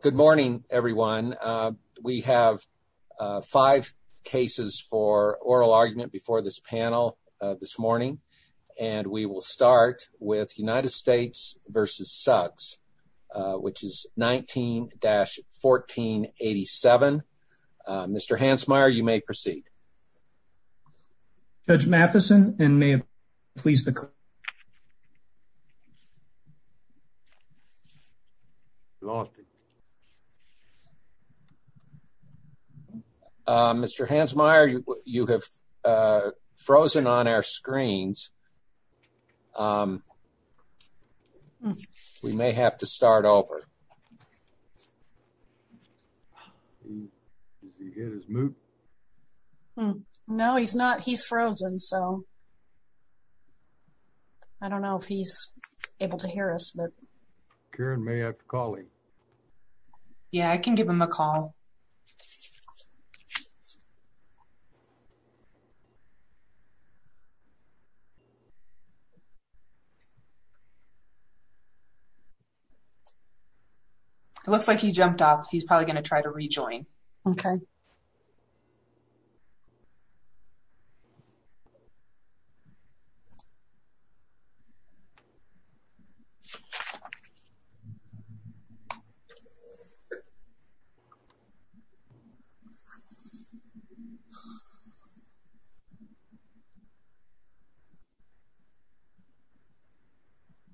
Good morning, everyone. We have five cases for oral argument before this panel this morning, and we will start with United States v. Suggs, which is 19-1487. Mr. Hansmeier, you may proceed. Mr. Hansmeier, you have frozen on our screens. We may have to start over. Has he hit his mute? No, he's not. He's frozen, so I don't know if he's able to hear us, but Karen may have to call him. Yeah, I can give him a call. It looks like he jumped off. He's probably going to try to rejoin. Okay.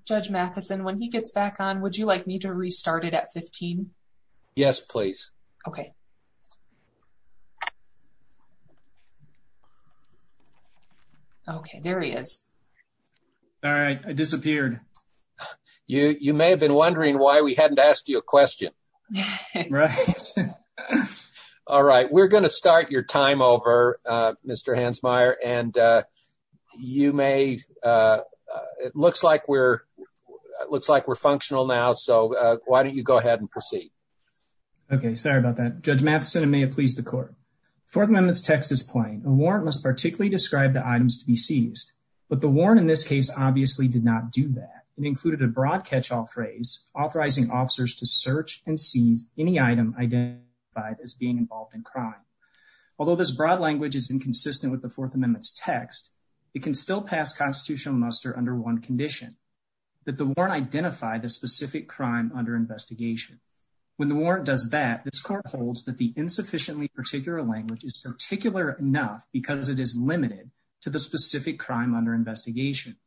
Judge Matheson, when he gets back on, would you like me to restart it at 15? Yes, please. Okay. Okay, there he is. All right, I disappeared. You may have been wondering why we hadn't asked you a question. Right. All right, we're going to start your time over, Mr. Hansmeier, and it looks like we're functional now, so why don't you go ahead and proceed? Okay, sorry about that. Judge Matheson, it may have pleased the court. Fourth Amendment's text is plain. A warrant must particularly describe the items to be seized, but the warrant in this case obviously did not do that. It included a broad catch-all phrase authorizing officers to search and seize any item identified as being involved in crime. Although this broad language is inconsistent with the Fourth Amendment's text, it can still pass constitutional muster under one condition, that the warrant identify the specific crime under investigation. When the warrant does that, this court holds that the insufficiently particular language is particular enough because it is limited to the specific crime under investigation.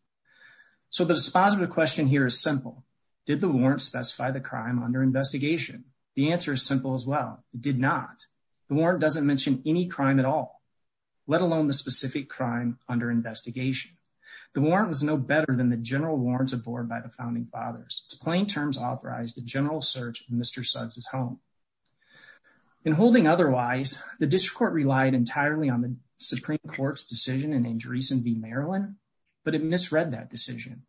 So the response to the question here is simple. Did the warrant specify the crime under investigation? The answer is well, it did not. The warrant doesn't mention any crime at all, let alone the specific crime under investigation. The warrant was no better than the general warrants abhorred by the Founding Fathers. Its plain terms authorized a general search of Mr. Suggs' home. In holding otherwise, the district court relied entirely on the Supreme Court's decision in Andreessen v. Maryland, but it misread that decision.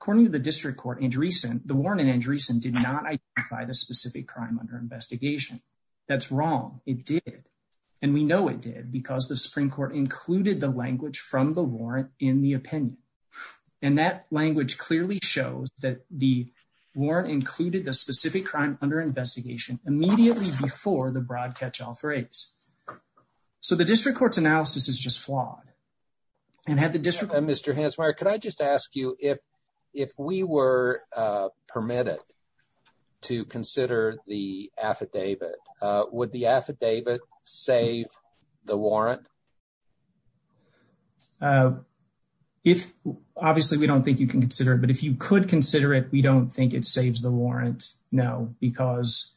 According to the district court, the warrant in Andreessen did not identify the specific crime under investigation. That's wrong. It did. And we know it did because the Supreme Court included the language from the warrant in the opinion. And that language clearly shows that the warrant included the specific crime under investigation immediately before the broad catch-all phrase. So the district court's analysis is just flawed. And had the district... Mr. Hansmeier, could I just ask you if we were permitted to consider the affidavit, would the affidavit save the warrant? If... Obviously, we don't think you can consider it, but if you could consider it, we don't think it saves the warrant. No, because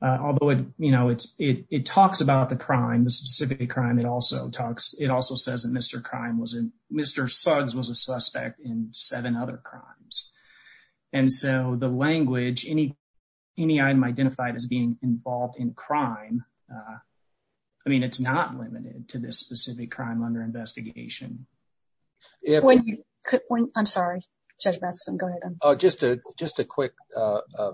although it talks about the crime, the specific crime, it also says that Mr. Suggs was a suspect in seven other crimes. And so the language, any item identified as being involved in crime, I mean, it's not limited to this specific crime under investigation. I'm sorry, Judge Matheson, go ahead. Oh, just a quick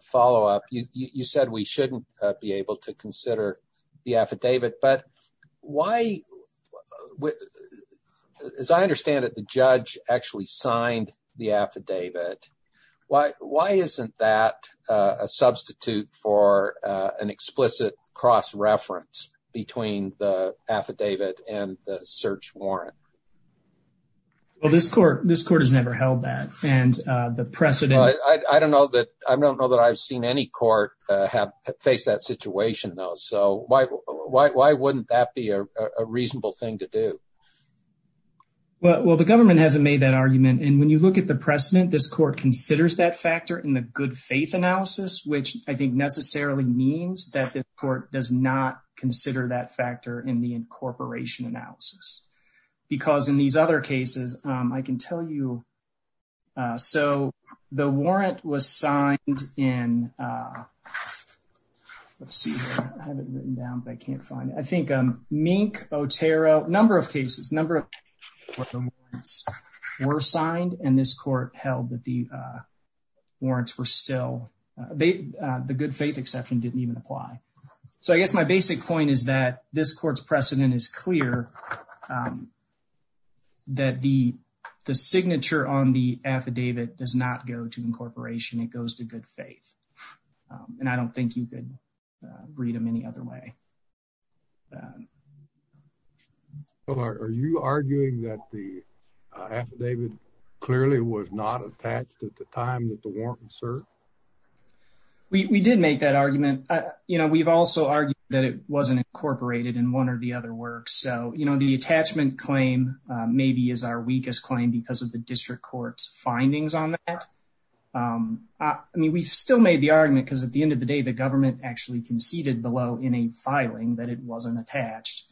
follow-up. You said we shouldn't be able to consider the affidavit, but why... As I understand it, the judge actually signed the affidavit. Why isn't that a substitute for an explicit cross-reference between the affidavit and the search warrant? Well, this court has never held that. And the precedent... I don't know that I've seen any court face that situation though. So why wouldn't that be a reasonable thing to do? Well, the government hasn't made that argument. And when you look at the precedent, this court considers that factor in the good faith analysis, which I think necessarily means that this court does not consider that factor in the incorporation analysis. Because in these other cases, I can tell you... So the warrant was signed in... Let's see here. I have it written down, but I can't find it. I think Mink, Otero, number of cases, number of cases where the warrants were signed and this court held that the warrants were still... The good faith exception didn't even apply. So I guess my basic point is that this court's precedent is clear that the signature on the affidavit does not go to incorporation. It goes to good faith. And I don't think you could read them any other way. So are you arguing that the affidavit clearly was not attached at the time that the warrant was in one or the other works? So, you know, the attachment claim maybe is our weakest claim because of the district court's findings on that. I mean, we've still made the argument because at the end of the day, the government actually conceded below in a filing that it wasn't attached.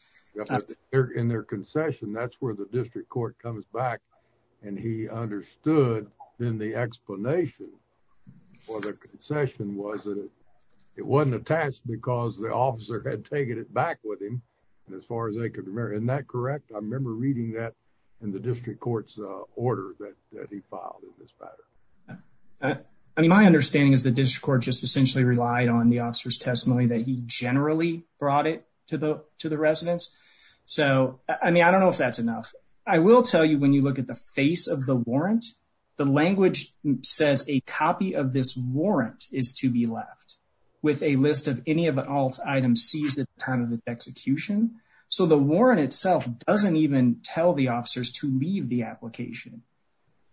In their concession, that's where the district court comes back. And he understood in the explanation for the concession was that it wasn't attached because the officer had taken it with him. And as far as I could remember, isn't that correct? I remember reading that in the district court's order that he filed in this matter. I mean, my understanding is the district court just essentially relied on the officer's testimony that he generally brought it to the residents. So, I mean, I don't know if that's enough. I will tell you when you look at the face of the warrant, the language says a copy of this warrant is to be with a list of any of the items seized at the time of the execution. So, the warrant itself doesn't even tell the officers to leave the application.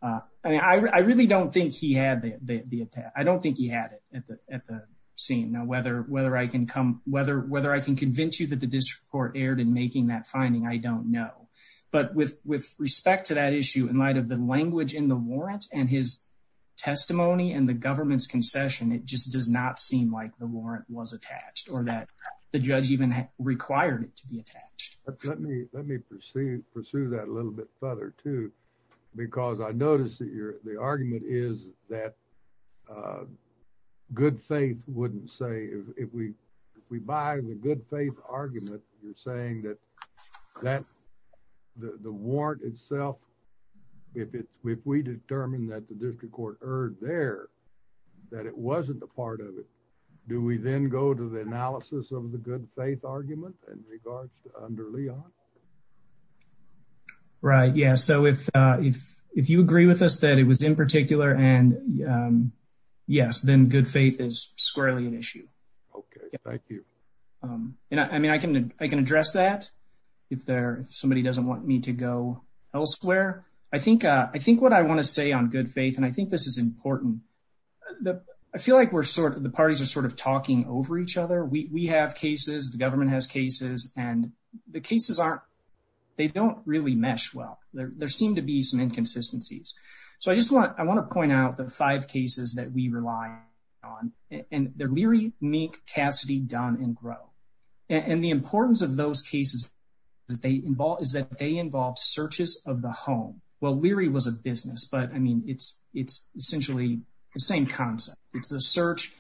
I mean, I really don't think he had the attack. I don't think he had it at the scene. Now, whether I can convince you that the district court erred in making that finding, I don't know. But with respect to that issue in light of the language in the warrant and his testimony and the government's concession, it just does not seem like the warrant was attached or that the judge even required it to be attached. Let me pursue that a little bit further too, because I noticed that the argument is that good faith wouldn't say, if we buy the good faith argument, you're saying that that the warrant itself, if we determine that the district court erred there, that it wasn't a part of it, do we then go to the analysis of the good faith argument in regards to under Leon? Right, yeah. So, if you agree with us that it was in particular and yes, then good faith is squarely an issue. Okay, thank you. I mean, I can address that. If somebody doesn't want me to go elsewhere, I think what I want to say on good faith, and I think this is important, I feel like the parties are sort of talking over each other. We have cases, the government has cases, and the cases aren't, they don't really mesh well. There seem to be some inconsistencies. So, I just want to point out the five cases that we rely on and they're Leary, Mink, Cassidy, Dunn, and Groh. And the importance of those cases is that they involve searches of the home. Well, Leary was a business, but I mean, it's essentially the same concept. It's the search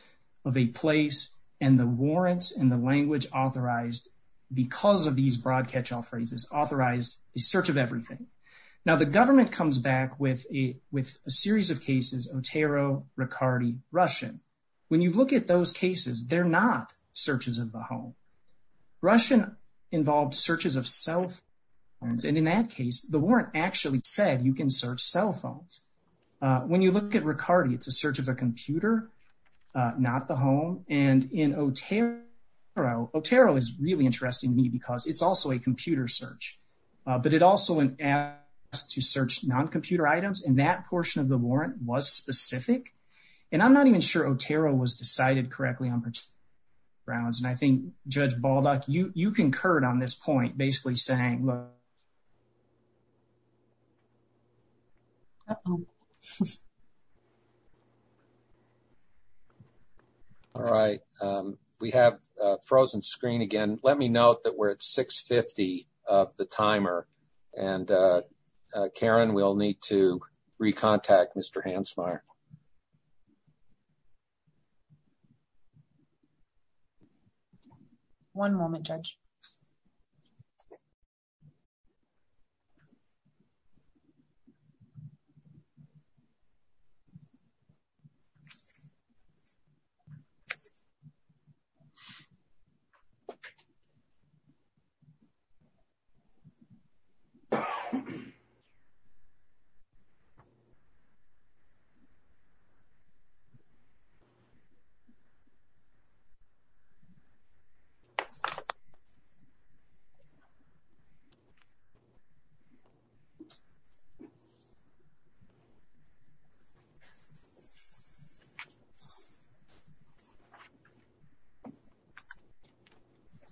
of a place and the warrants and the language authorized because of these broad catch-all phrases, authorized the search of everything. Now, the government comes back with a series of cases, Otero, Riccardi, Russian. When you look at those cases, they're not searches of the home. Russian involved searches of cell phones. And in that case, the warrant actually said you can search cell phones. When you look at Riccardi, it's a search of a computer, not the home. And in Otero, Otero is really interesting to me because it's also a that portion of the warrant was specific. And I'm not even sure Otero was decided correctly on particular grounds. And I think Judge Baldock, you concurred on this point, basically saying. All right. We have a frozen screen again. Let me note that we're at 6.50 of the timer. And Karen, we'll need to recontact Mr. Hansmeier. One moment, Judge.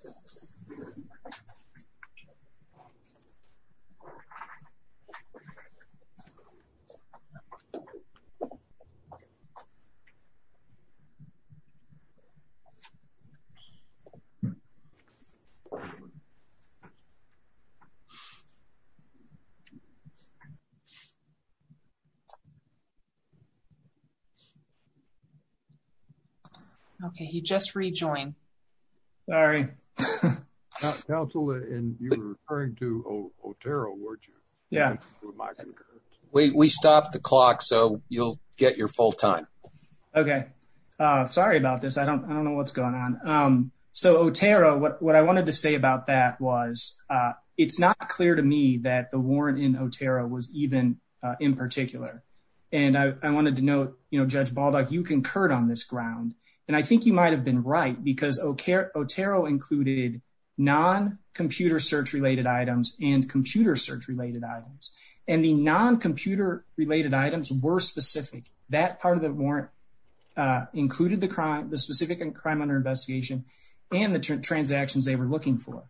So, so, okay. He just rejoined. Sorry. Counselor, you were referring to Otero, weren't you? Yeah. We stopped the clock, so you'll get your full time. Okay. Sorry about this. I don't know what's going on. So, Otero, what I wanted to say about that was it's not clear to me that the warrant in Otero was even in particular, and I wanted to you concurred on this ground, and I think you might have been right because Otero included non-computer search related items and computer search related items, and the non-computer related items were specific. That part of the warrant included the specific crime under investigation and the transactions they were looking for.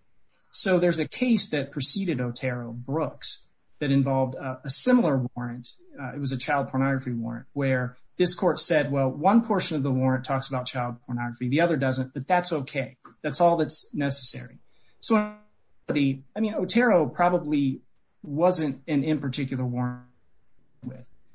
So, there's a case that preceded Otero, Brooks, that involved a similar warrant. It was a child pornography warrant where this one portion of the warrant talks about child pornography, the other doesn't, but that's okay. That's all that's necessary. So, Otero probably wasn't an in particular warrant,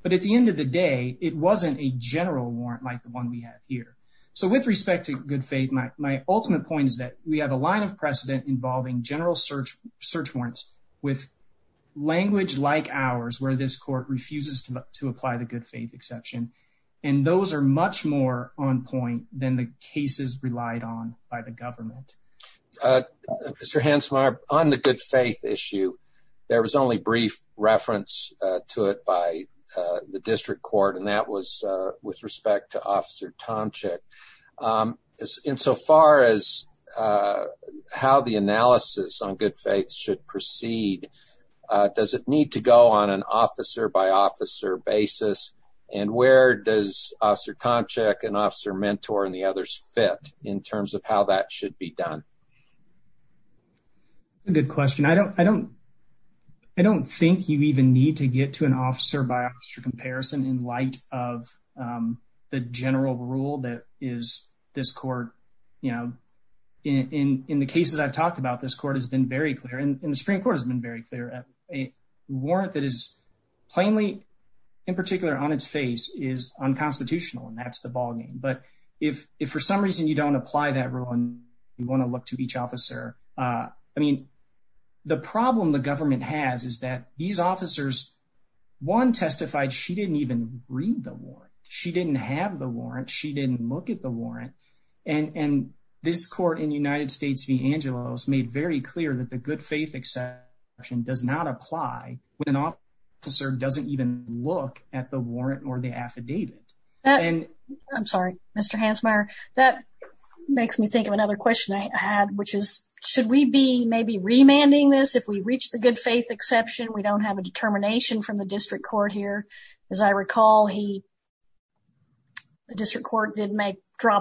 but at the end of the day, it wasn't a general warrant like the one we have here. So, with respect to good faith, my ultimate point is that we have a line of precedent involving general search warrants with language like ours where this court refuses to apply the good faith exception, and those are much more on point than the cases relied on by the government. Mr. Hansmeier, on the good faith issue, there was only brief reference to it by the district court, and that was with respect to Officer Tomczyk. In so far as how the analysis on good faith should proceed, does it need to go on an officer-by-officer basis, and where does Officer Tomczyk and Officer Mentor and the others fit in terms of how that should be done? That's a good question. I don't think you even need to get to an officer-by-officer comparison in light of the general rule that is this court, you know, in the cases I've talked about, this court has been very clear, and the Supreme Court has been very clear. A warrant that is plainly, in particular, on its face is unconstitutional, and that's the ballgame, but if for some reason you don't apply that rule and you want to look to each officer, I mean, the problem the government has is that these officers, one testified she didn't even read the warrant. She didn't have the warrant. She didn't look at the warrant, and this court in clear that the good faith exception does not apply when an officer doesn't even look at the warrant or the affidavit. I'm sorry, Mr. Hansmeier, that makes me think of another question I had, which is, should we be maybe remanding this if we reach the good faith exception? We don't have a determination from the district court here. As I recall, the district court did make,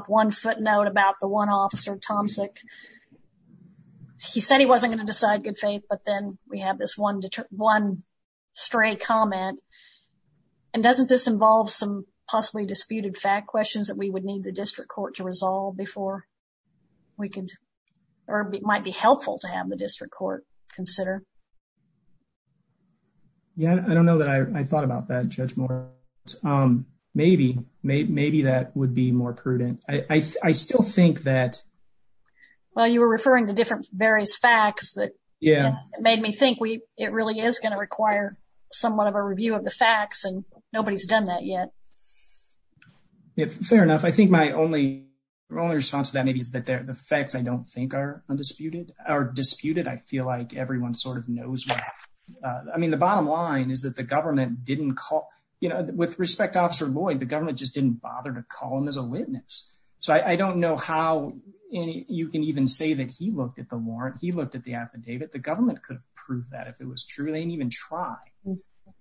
one footnote about the one officer, Tomsic. He said he wasn't going to decide good faith, but then we have this one stray comment, and doesn't this involve some possibly disputed fact questions that we would need the district court to resolve before we could, or it might be helpful to have the district court consider? Yeah, I don't know that I thought about that, Judge Moore. Maybe that would be more prudent. I still think that. Well, you were referring to different various facts that made me think it really is going to require somewhat of a review of the facts, and nobody's done that yet. Yeah, fair enough. I think my only response to that maybe is that the facts I don't think are undisputed or disputed. I feel like everyone knows what happened. I mean, the bottom line is that the government didn't call, you know, with respect to Officer Lloyd, the government just didn't bother to call him as a witness. So I don't know how you can even say that he looked at the warrant, he looked at the affidavit. The government could prove that if it was true. They didn't even try.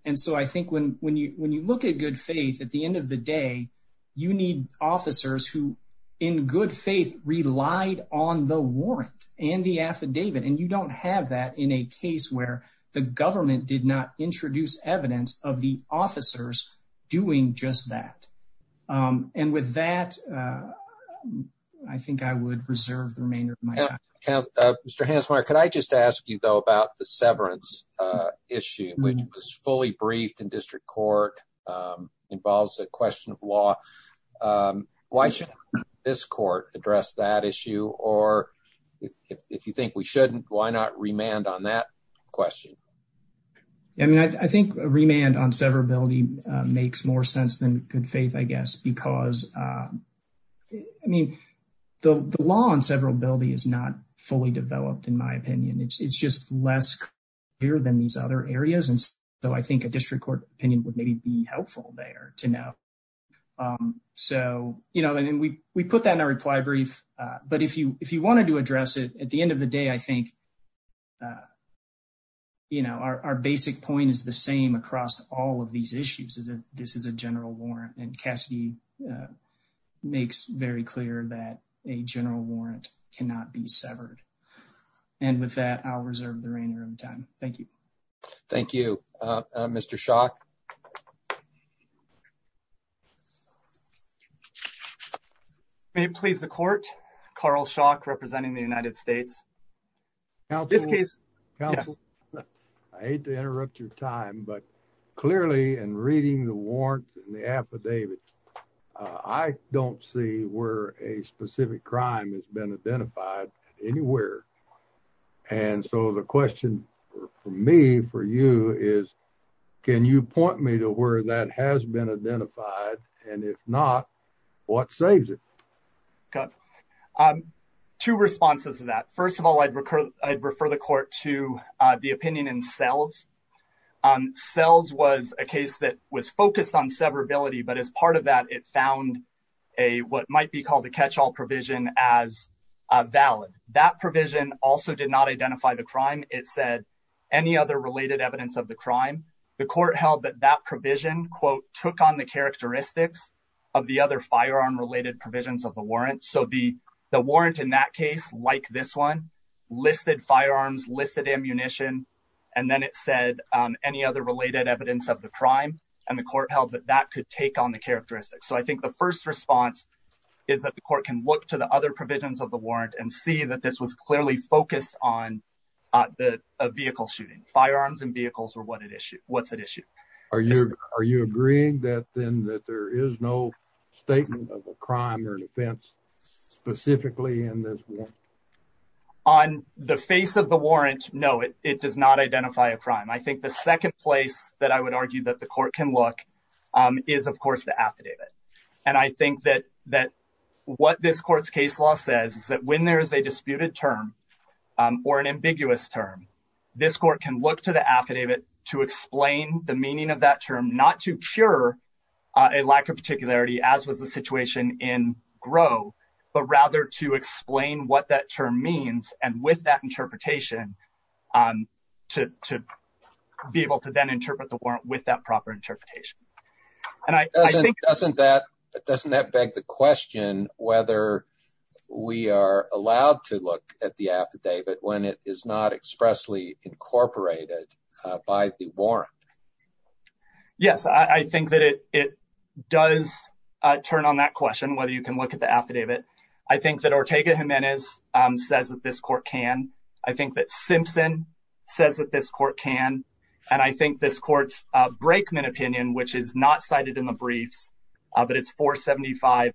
And so I think when you look at good faith, at the end of the day, you need officers who in good faith relied on the warrant and the affidavit. And you don't have that in a case where the government did not introduce evidence of the officers doing just that. And with that, I think I would reserve the remainder of my time. Mr. Hansmeier, could I just ask you, though, about the severance issue, which was fully briefed in district court, involves a question of law. Why shouldn't this court address that issue? Or if you think we shouldn't, why not remand on that question? I mean, I think remand on severability makes more sense than good faith, I guess, because I mean, the law on severability is not fully developed, in my opinion. It's just less clear than these other areas. And so I think a district opinion would maybe be helpful there to know. So, you know, and we put that in our reply brief. But if you wanted to address it, at the end of the day, I think, you know, our basic point is the same across all of these issues, is that this is a general warrant. And Cassidy makes very clear that a general warrant cannot be severed. And with that, I'll reserve the remainder of time. Thank you. Thank you, Mr. Schock. May it please the court, Carl Schock, representing the United States. I hate to interrupt your time, but clearly in reading the warrant and the affidavit, I don't see where a specific crime has been identified anywhere. And so the question for me, for you is, can you point me to where that has been identified? And if not, what saves it? Two responses to that. First of all, I'd refer the court to the opinion in Sells. And Sells was a case that was focused on severability. But as part of that, it found a what might be called a catch all provision as valid. That provision also did not identify the crime. It said any other related evidence of the crime. The court held that that provision, quote, took on the characteristics of the other firearm related provisions of the warrant. So the warrant in that case, like this one, listed firearms, listed ammunition, and then it said any other related evidence of the crime. And the court held that that could take on the characteristics. So I think the first response is that the court can look to the other provisions of the warrant and see that this was clearly focused on the vehicle shooting. Firearms and vehicles were what it issued. What's at issue? Are you are you agreeing that then that there is no statement of a crime or an offense specifically in this warrant? On the face of the warrant, no, it does not identify a crime. I think the second place that I would argue that the court can look is, of course, the affidavit. And I think that that what this court's case law says is that when there is a disputed term or an ambiguous term, this court can look to the affidavit to explain the meaning of that term, not to cure a lack of particularity, as was the situation in Gros, but rather to explain what that term means and with that interpretation to be able to then interpret the warrant with that proper interpretation. And I think... Doesn't that beg the question whether we are allowed to look at the affidavit when it is not expressly incorporated by the warrant? Yes, I think that it does turn on that question, whether you can look at the affidavit. I think that Ortega Jimenez says that this court can. I think that Simpson says that this court can. And I think this court's Brakeman opinion, which is not cited in the briefs, but it's 475F3-1206,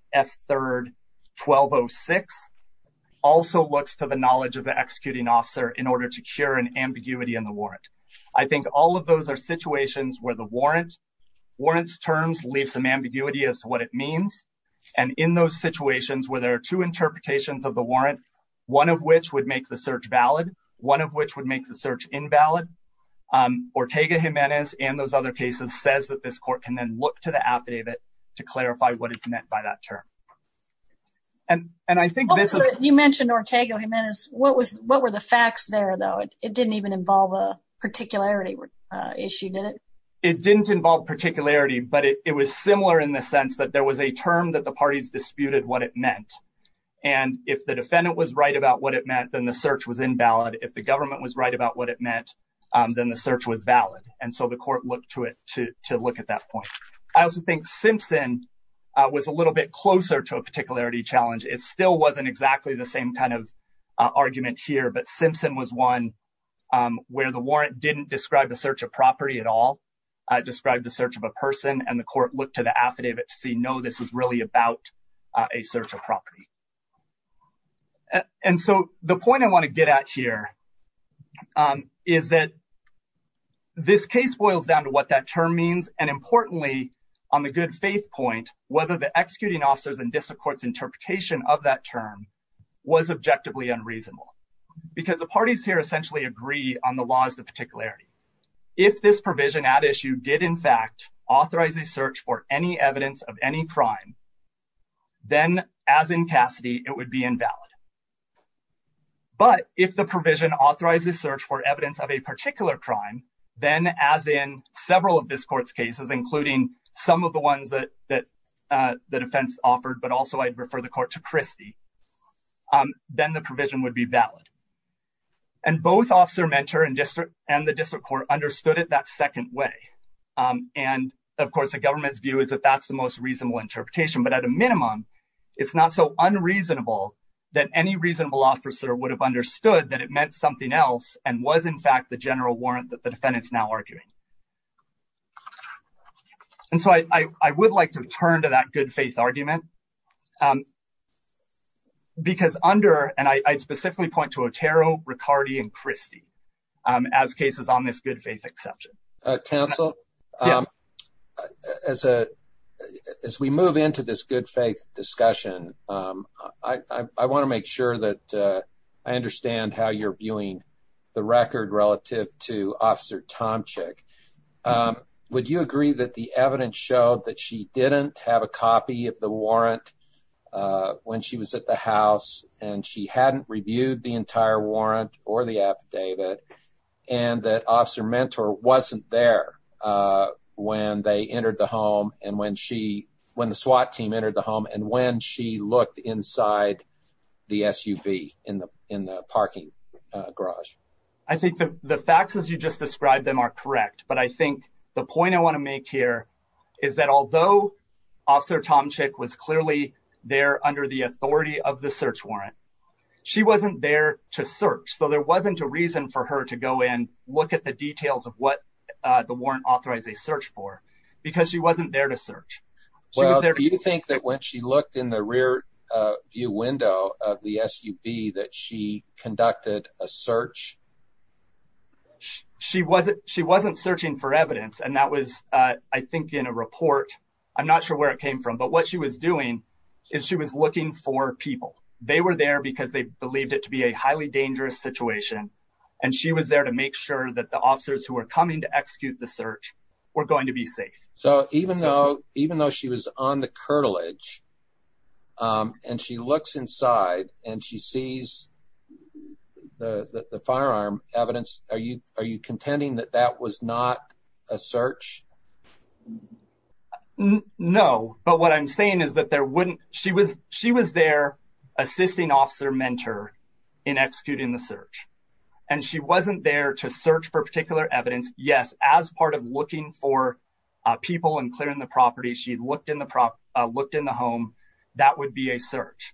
also looks to the knowledge of the executing officer in order to cure an ambiguity in the warrant. I think all of those are situations where the warrant's terms leave some ambiguity as to what it means. And in those situations where there are two interpretations of the warrant, one of which would make the search valid, one of which would make the search invalid, Ortega Jimenez and those other cases says that this court can then look to the affidavit to clarify what is meant by that term. And I think this is... You mentioned Ortega Jimenez. What were the facts there, though? It didn't even involve a particularity issue, did it? It didn't involve particularity, but it was similar in the sense that there was a term that the parties disputed what it meant. And if the defendant was right about what it meant, then the search was invalid. If the government was right what it meant, then the search was valid. And so the court looked to it to look at that point. I also think Simpson was a little bit closer to a particularity challenge. It still wasn't exactly the same kind of argument here, but Simpson was one where the warrant didn't describe the search of property at all. It described the search of a person, and the court looked to the affidavit to see, no, this is really about a search of property. And so the point I want to get at here is that this case boils down to what that term means, and importantly, on the good faith point, whether the executing officers and district court's interpretation of that term was objectively unreasonable. Because the parties here essentially agree on the laws of particularity. If this provision at issue did, in fact, authorize a search for any evidence of any crime, then as in Cassidy, it would be invalid. But if the provision authorizes search for evidence of a particular crime, then as in several of this court's cases, including some of the ones that the defense offered, but also I'd refer the court to Christie, then the provision would be valid. And both Officer Mentor and the district court understood it that second way. And, of course, the government's view is that that's the most reasonable interpretation. But at a minimum, it's not so unreasonable that any reasonable officer would have understood that it meant something else and was, in fact, the general warrant that the defendant's now arguing. And so I would like to return to that good faith argument. Because under, and I specifically point to Otero, Riccardi, and Christie, as cases on this good faith exception. Counsel, as we move into this good faith discussion, I want to make sure that I understand how you're viewing the record relative to Officer Tomczyk. Would you agree that the evidence showed that she didn't have a copy of the warrant when she was at the house, and she hadn't reviewed the entire warrant or the affidavit, and that Officer Mentor wasn't there when they entered the home and when she, when the SWAT team entered the home and when she looked inside the SUV in the parking garage? I think the facts as you just described them are correct. But I think the point I want to make here is that although Officer Tomczyk was clearly there under the authority of the search warrant, she wasn't there to search. So there wasn't a reason for her to go and look at the details of what the warrant authorized a search for because she wasn't there to search. Well, do you think that when she looked in the rear view window of the SUV that she conducted a search? She wasn't searching for evidence, and that was, I think, in a report. I'm not sure where it came from, but what she was doing is she was looking for people. They were there because they believed it to be a highly dangerous situation, and she was there to make sure that the officers who were coming to execute the search were going to be safe. So even though she was on the curtilage and she looks inside and she sees the firearm evidence, are you contending that that was not a search? No, but what I'm saying is that she was there assisting Officer Mentor in executing the search, and she wasn't there to search for particular evidence. Yes, as part of people and clearing the property, she looked in the home. That would be a search.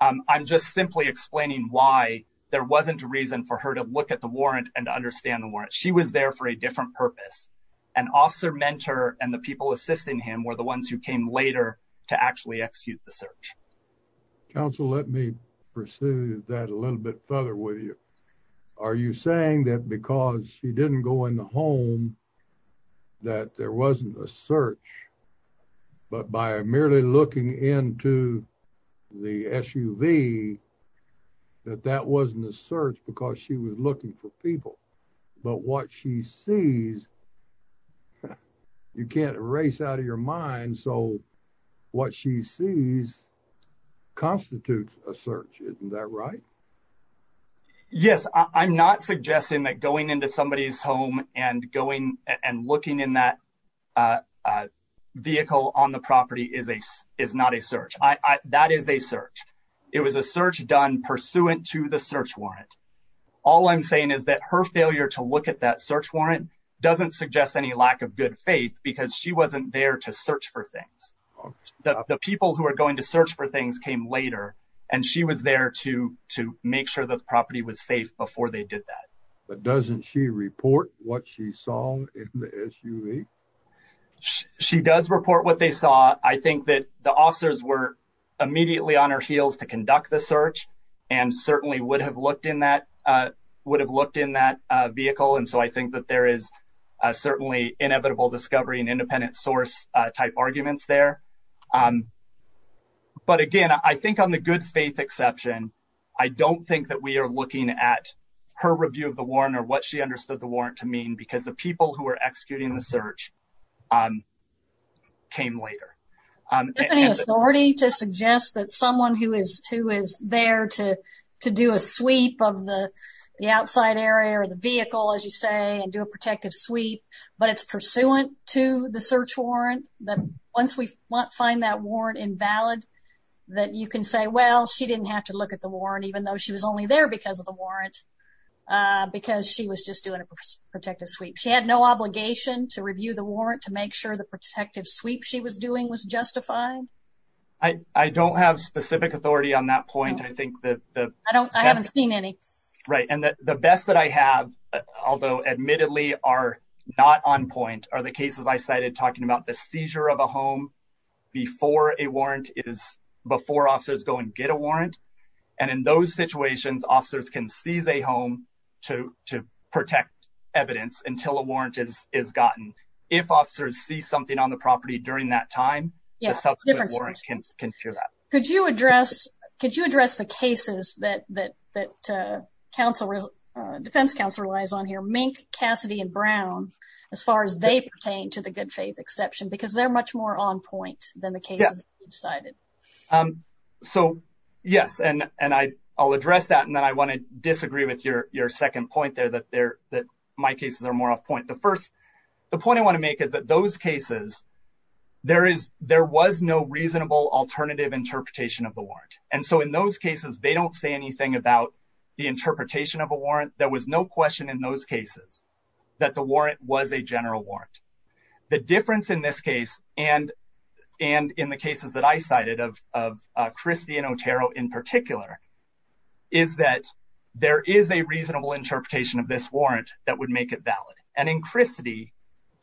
I'm just simply explaining why there wasn't a reason for her to look at the warrant and understand the warrant. She was there for a different purpose, and Officer Mentor and the people assisting him were the ones who came later to actually execute the search. Counsel, let me pursue that a little bit further with you. Are you saying that because she didn't go in the home that there wasn't a search, but by merely looking into the SUV that that wasn't a search because she was looking for people? But what she sees, you can't erase out of your mind, so what she sees constitutes a search. Isn't that right? Yes, I'm not suggesting that going into somebody's home and going and looking in that vehicle on the property is not a search. That is a search. It was a search done pursuant to the search warrant. All I'm saying is that her failure to look at that search warrant doesn't suggest any lack of good faith because she wasn't there to search for things. The people who are going to search for things came later, and she was there to make sure the property was safe before they did that. But doesn't she report what she saw in the SUV? She does report what they saw. I think that the officers were immediately on her heels to conduct the search and certainly would have looked in that vehicle, and so I think that there is certainly inevitable discovery and independent source type arguments there. But again, I think on the good faith exception, I don't think that we are looking at her review of the warrant or what she understood the warrant to mean because the people who are executing the search came later. Is there any authority to suggest that someone who is there to do a sweep of the outside area of the vehicle, as you say, and do a protective sweep, but it's pursuant to the search warrant, that once we find that warrant invalid, that you can say, well, she didn't have to look at the warrant even though she was only there because of the warrant, because she was just doing a protective sweep. She had no obligation to review the warrant to make sure the protective sweep she was doing was justified? I don't have specific authority on that point. I haven't seen any. Right. And the best that I have, although admittedly are not on point, are the cases I cited talking about the seizure of a home before a warrant is before officers go and get a warrant. And in those situations, officers can seize a home to protect evidence until a warrant is gotten. If officers see something on the property during that time, the subsequent warrant can cure that. Could you address the cases that defense counsel relies on here, Mink, Cassidy, and Brown, as far as they pertain to the good faith exception? Because they're much more on point than the cases you've cited. So, yes. And I'll address that. And then I want to disagree with your second point there, that my cases are more off point. The point I want to make is that those And so, in those cases, they don't say anything about the interpretation of a warrant. There was no question in those cases that the warrant was a general warrant. The difference in this case, and in the cases that I cited of Christie and Otero in particular, is that there is a reasonable interpretation of this warrant that would make it valid. And in Christie,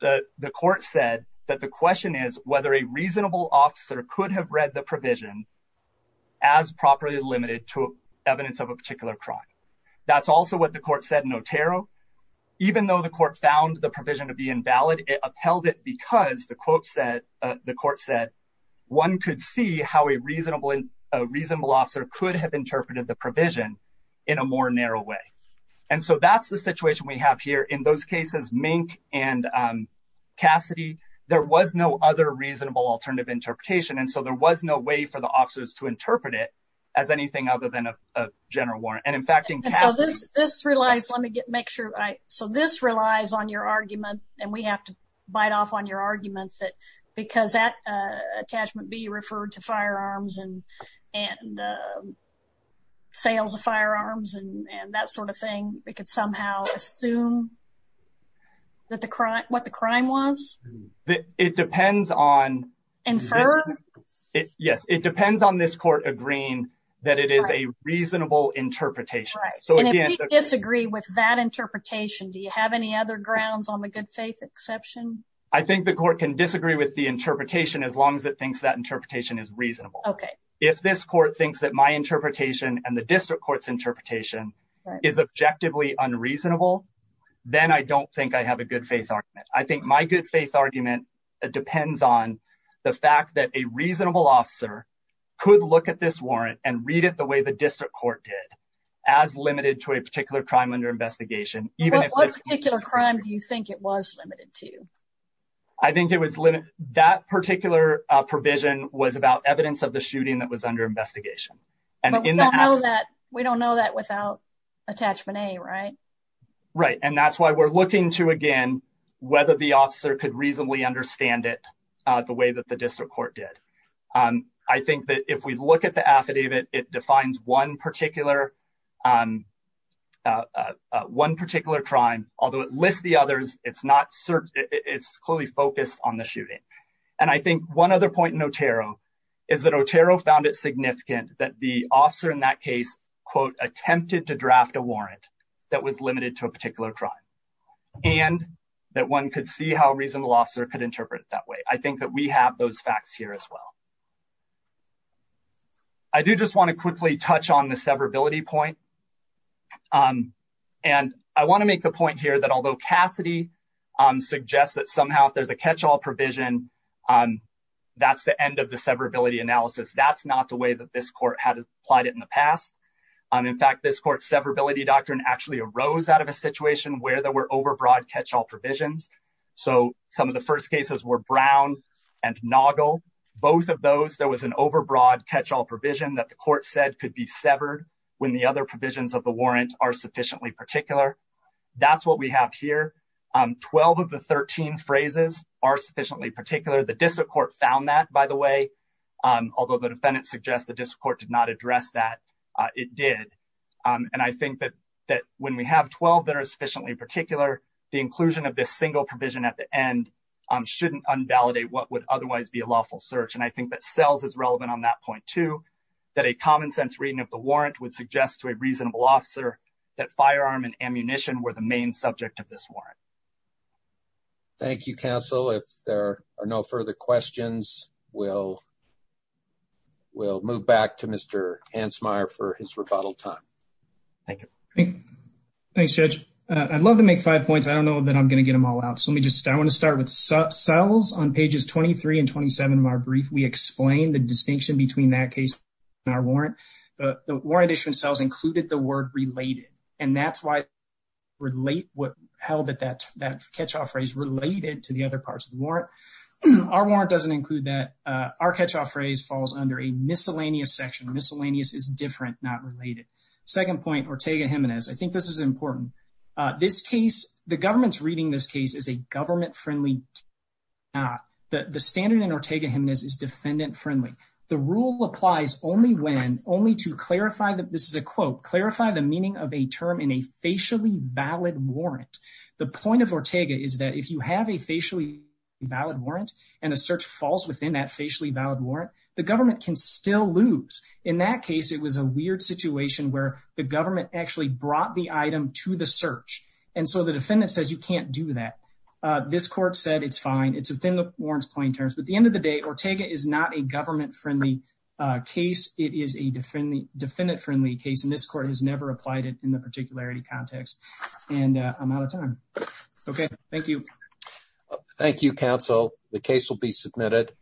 the court said that the question is whether a reasonable officer could have read the provision as properly limited to evidence of a particular crime. That's also what the court said in Otero. Even though the court found the provision to be invalid, it upheld it because the court said one could see how a reasonable officer could have interpreted the provision in a more narrow way. And so, that's the situation we have here. In those cases, Mink and Cassidy, there was no other reasonable alternative interpretation. And so, there was no way for the officers to interpret it as anything other than a general warrant. And in fact, in Cassidy- And so, this relies, let me make sure. So, this relies on your argument, and we have to bite off on your argument that because that attachment B referred to firearms and sales of firearms and that sort of thing, it could somehow assume that the crime, what the crime was? It depends on- Inferred? Yes. It depends on this court agreeing that it is a reasonable interpretation. Right. And if we disagree with that interpretation, do you have any other grounds on the good faith exception? I think the court can disagree with the interpretation as long as it thinks that interpretation is reasonable. Okay. If this court thinks that my interpretation and the district court's interpretation is objectively unreasonable, then I don't think I have a good faith argument. I think my good faith argument depends on the fact that a reasonable officer could look at this warrant and read it the way the district court did, as limited to a particular crime under investigation. But what particular crime do you think it was limited to? I think it was limited. That particular provision was about evidence of the shooting that was under investigation. But we don't know that without attachment A, right? Right. And that's why we're looking to, again, whether the officer could reasonably understand it the way that the district court did. I think that if we look at the affidavit, it defines one particular crime, although it lists the others, it's clearly focused on the shooting. And I think one other point in Otero is that Otero found it significant that the officer in that case, quote, attempted to draft a warrant that was limited to a particular crime, and that one could see how a reasonable officer could interpret it that way. I think that we have those on the severability point. And I want to make the point here that although Cassidy suggests that somehow if there's a catch-all provision, that's the end of the severability analysis. That's not the way that this court had applied it in the past. In fact, this court's severability doctrine actually arose out of a situation where there were overbroad catch-all provisions. So some of the first cases were Brown and Noggle. Both of those, there was an severed when the other provisions of the warrant are sufficiently particular. That's what we have here. 12 of the 13 phrases are sufficiently particular. The district court found that, by the way, although the defendant suggests the district court did not address that, it did. And I think that when we have 12 that are sufficiently particular, the inclusion of this single provision at the end shouldn't unvalidate what would otherwise be a lawful search. And I think that the common sense reading of the warrant would suggest to a reasonable officer that firearm and ammunition were the main subject of this warrant. Thank you, counsel. If there are no further questions, we'll move back to Mr. Hansmeier for his rebuttal time. Thank you. Thanks, Judge. I'd love to make five points. I don't know that I'm going to get them all out. So let me just, I want to start with Sells on pages 23 and 27 of our brief. We explained the distinction between that case and our warrant. The warrant issue in Sells included the word related, and that's why relate what held that catch-all phrase related to the other parts of the warrant. Our warrant doesn't include that. Our catch-all phrase falls under a miscellaneous section. Miscellaneous is different, not related. Second point, Ortega-Jimenez. I think this is important. This case, the government's reading this case is a government-friendly. The standard in Ortega-Jimenez is defendant-friendly. The rule applies only when, only to clarify that, this is a quote, clarify the meaning of a term in a facially valid warrant. The point of Ortega is that if you have a facially valid warrant and a search falls within that facially valid warrant, the government can still lose. In that case, it was a weird situation where the government actually brought the item to the search. The defendant says you can't do that. This court said it's fine. It's within the warrant's plain terms. At the end of the day, Ortega is not a government-friendly case. It is a defendant-friendly case, and this court has never applied it in the particularity context. I'm out of time. Thank you. Thank you, counsel. The case will be submitted.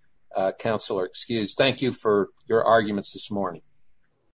Counselor, excuse. Thank you for your arguments this morning.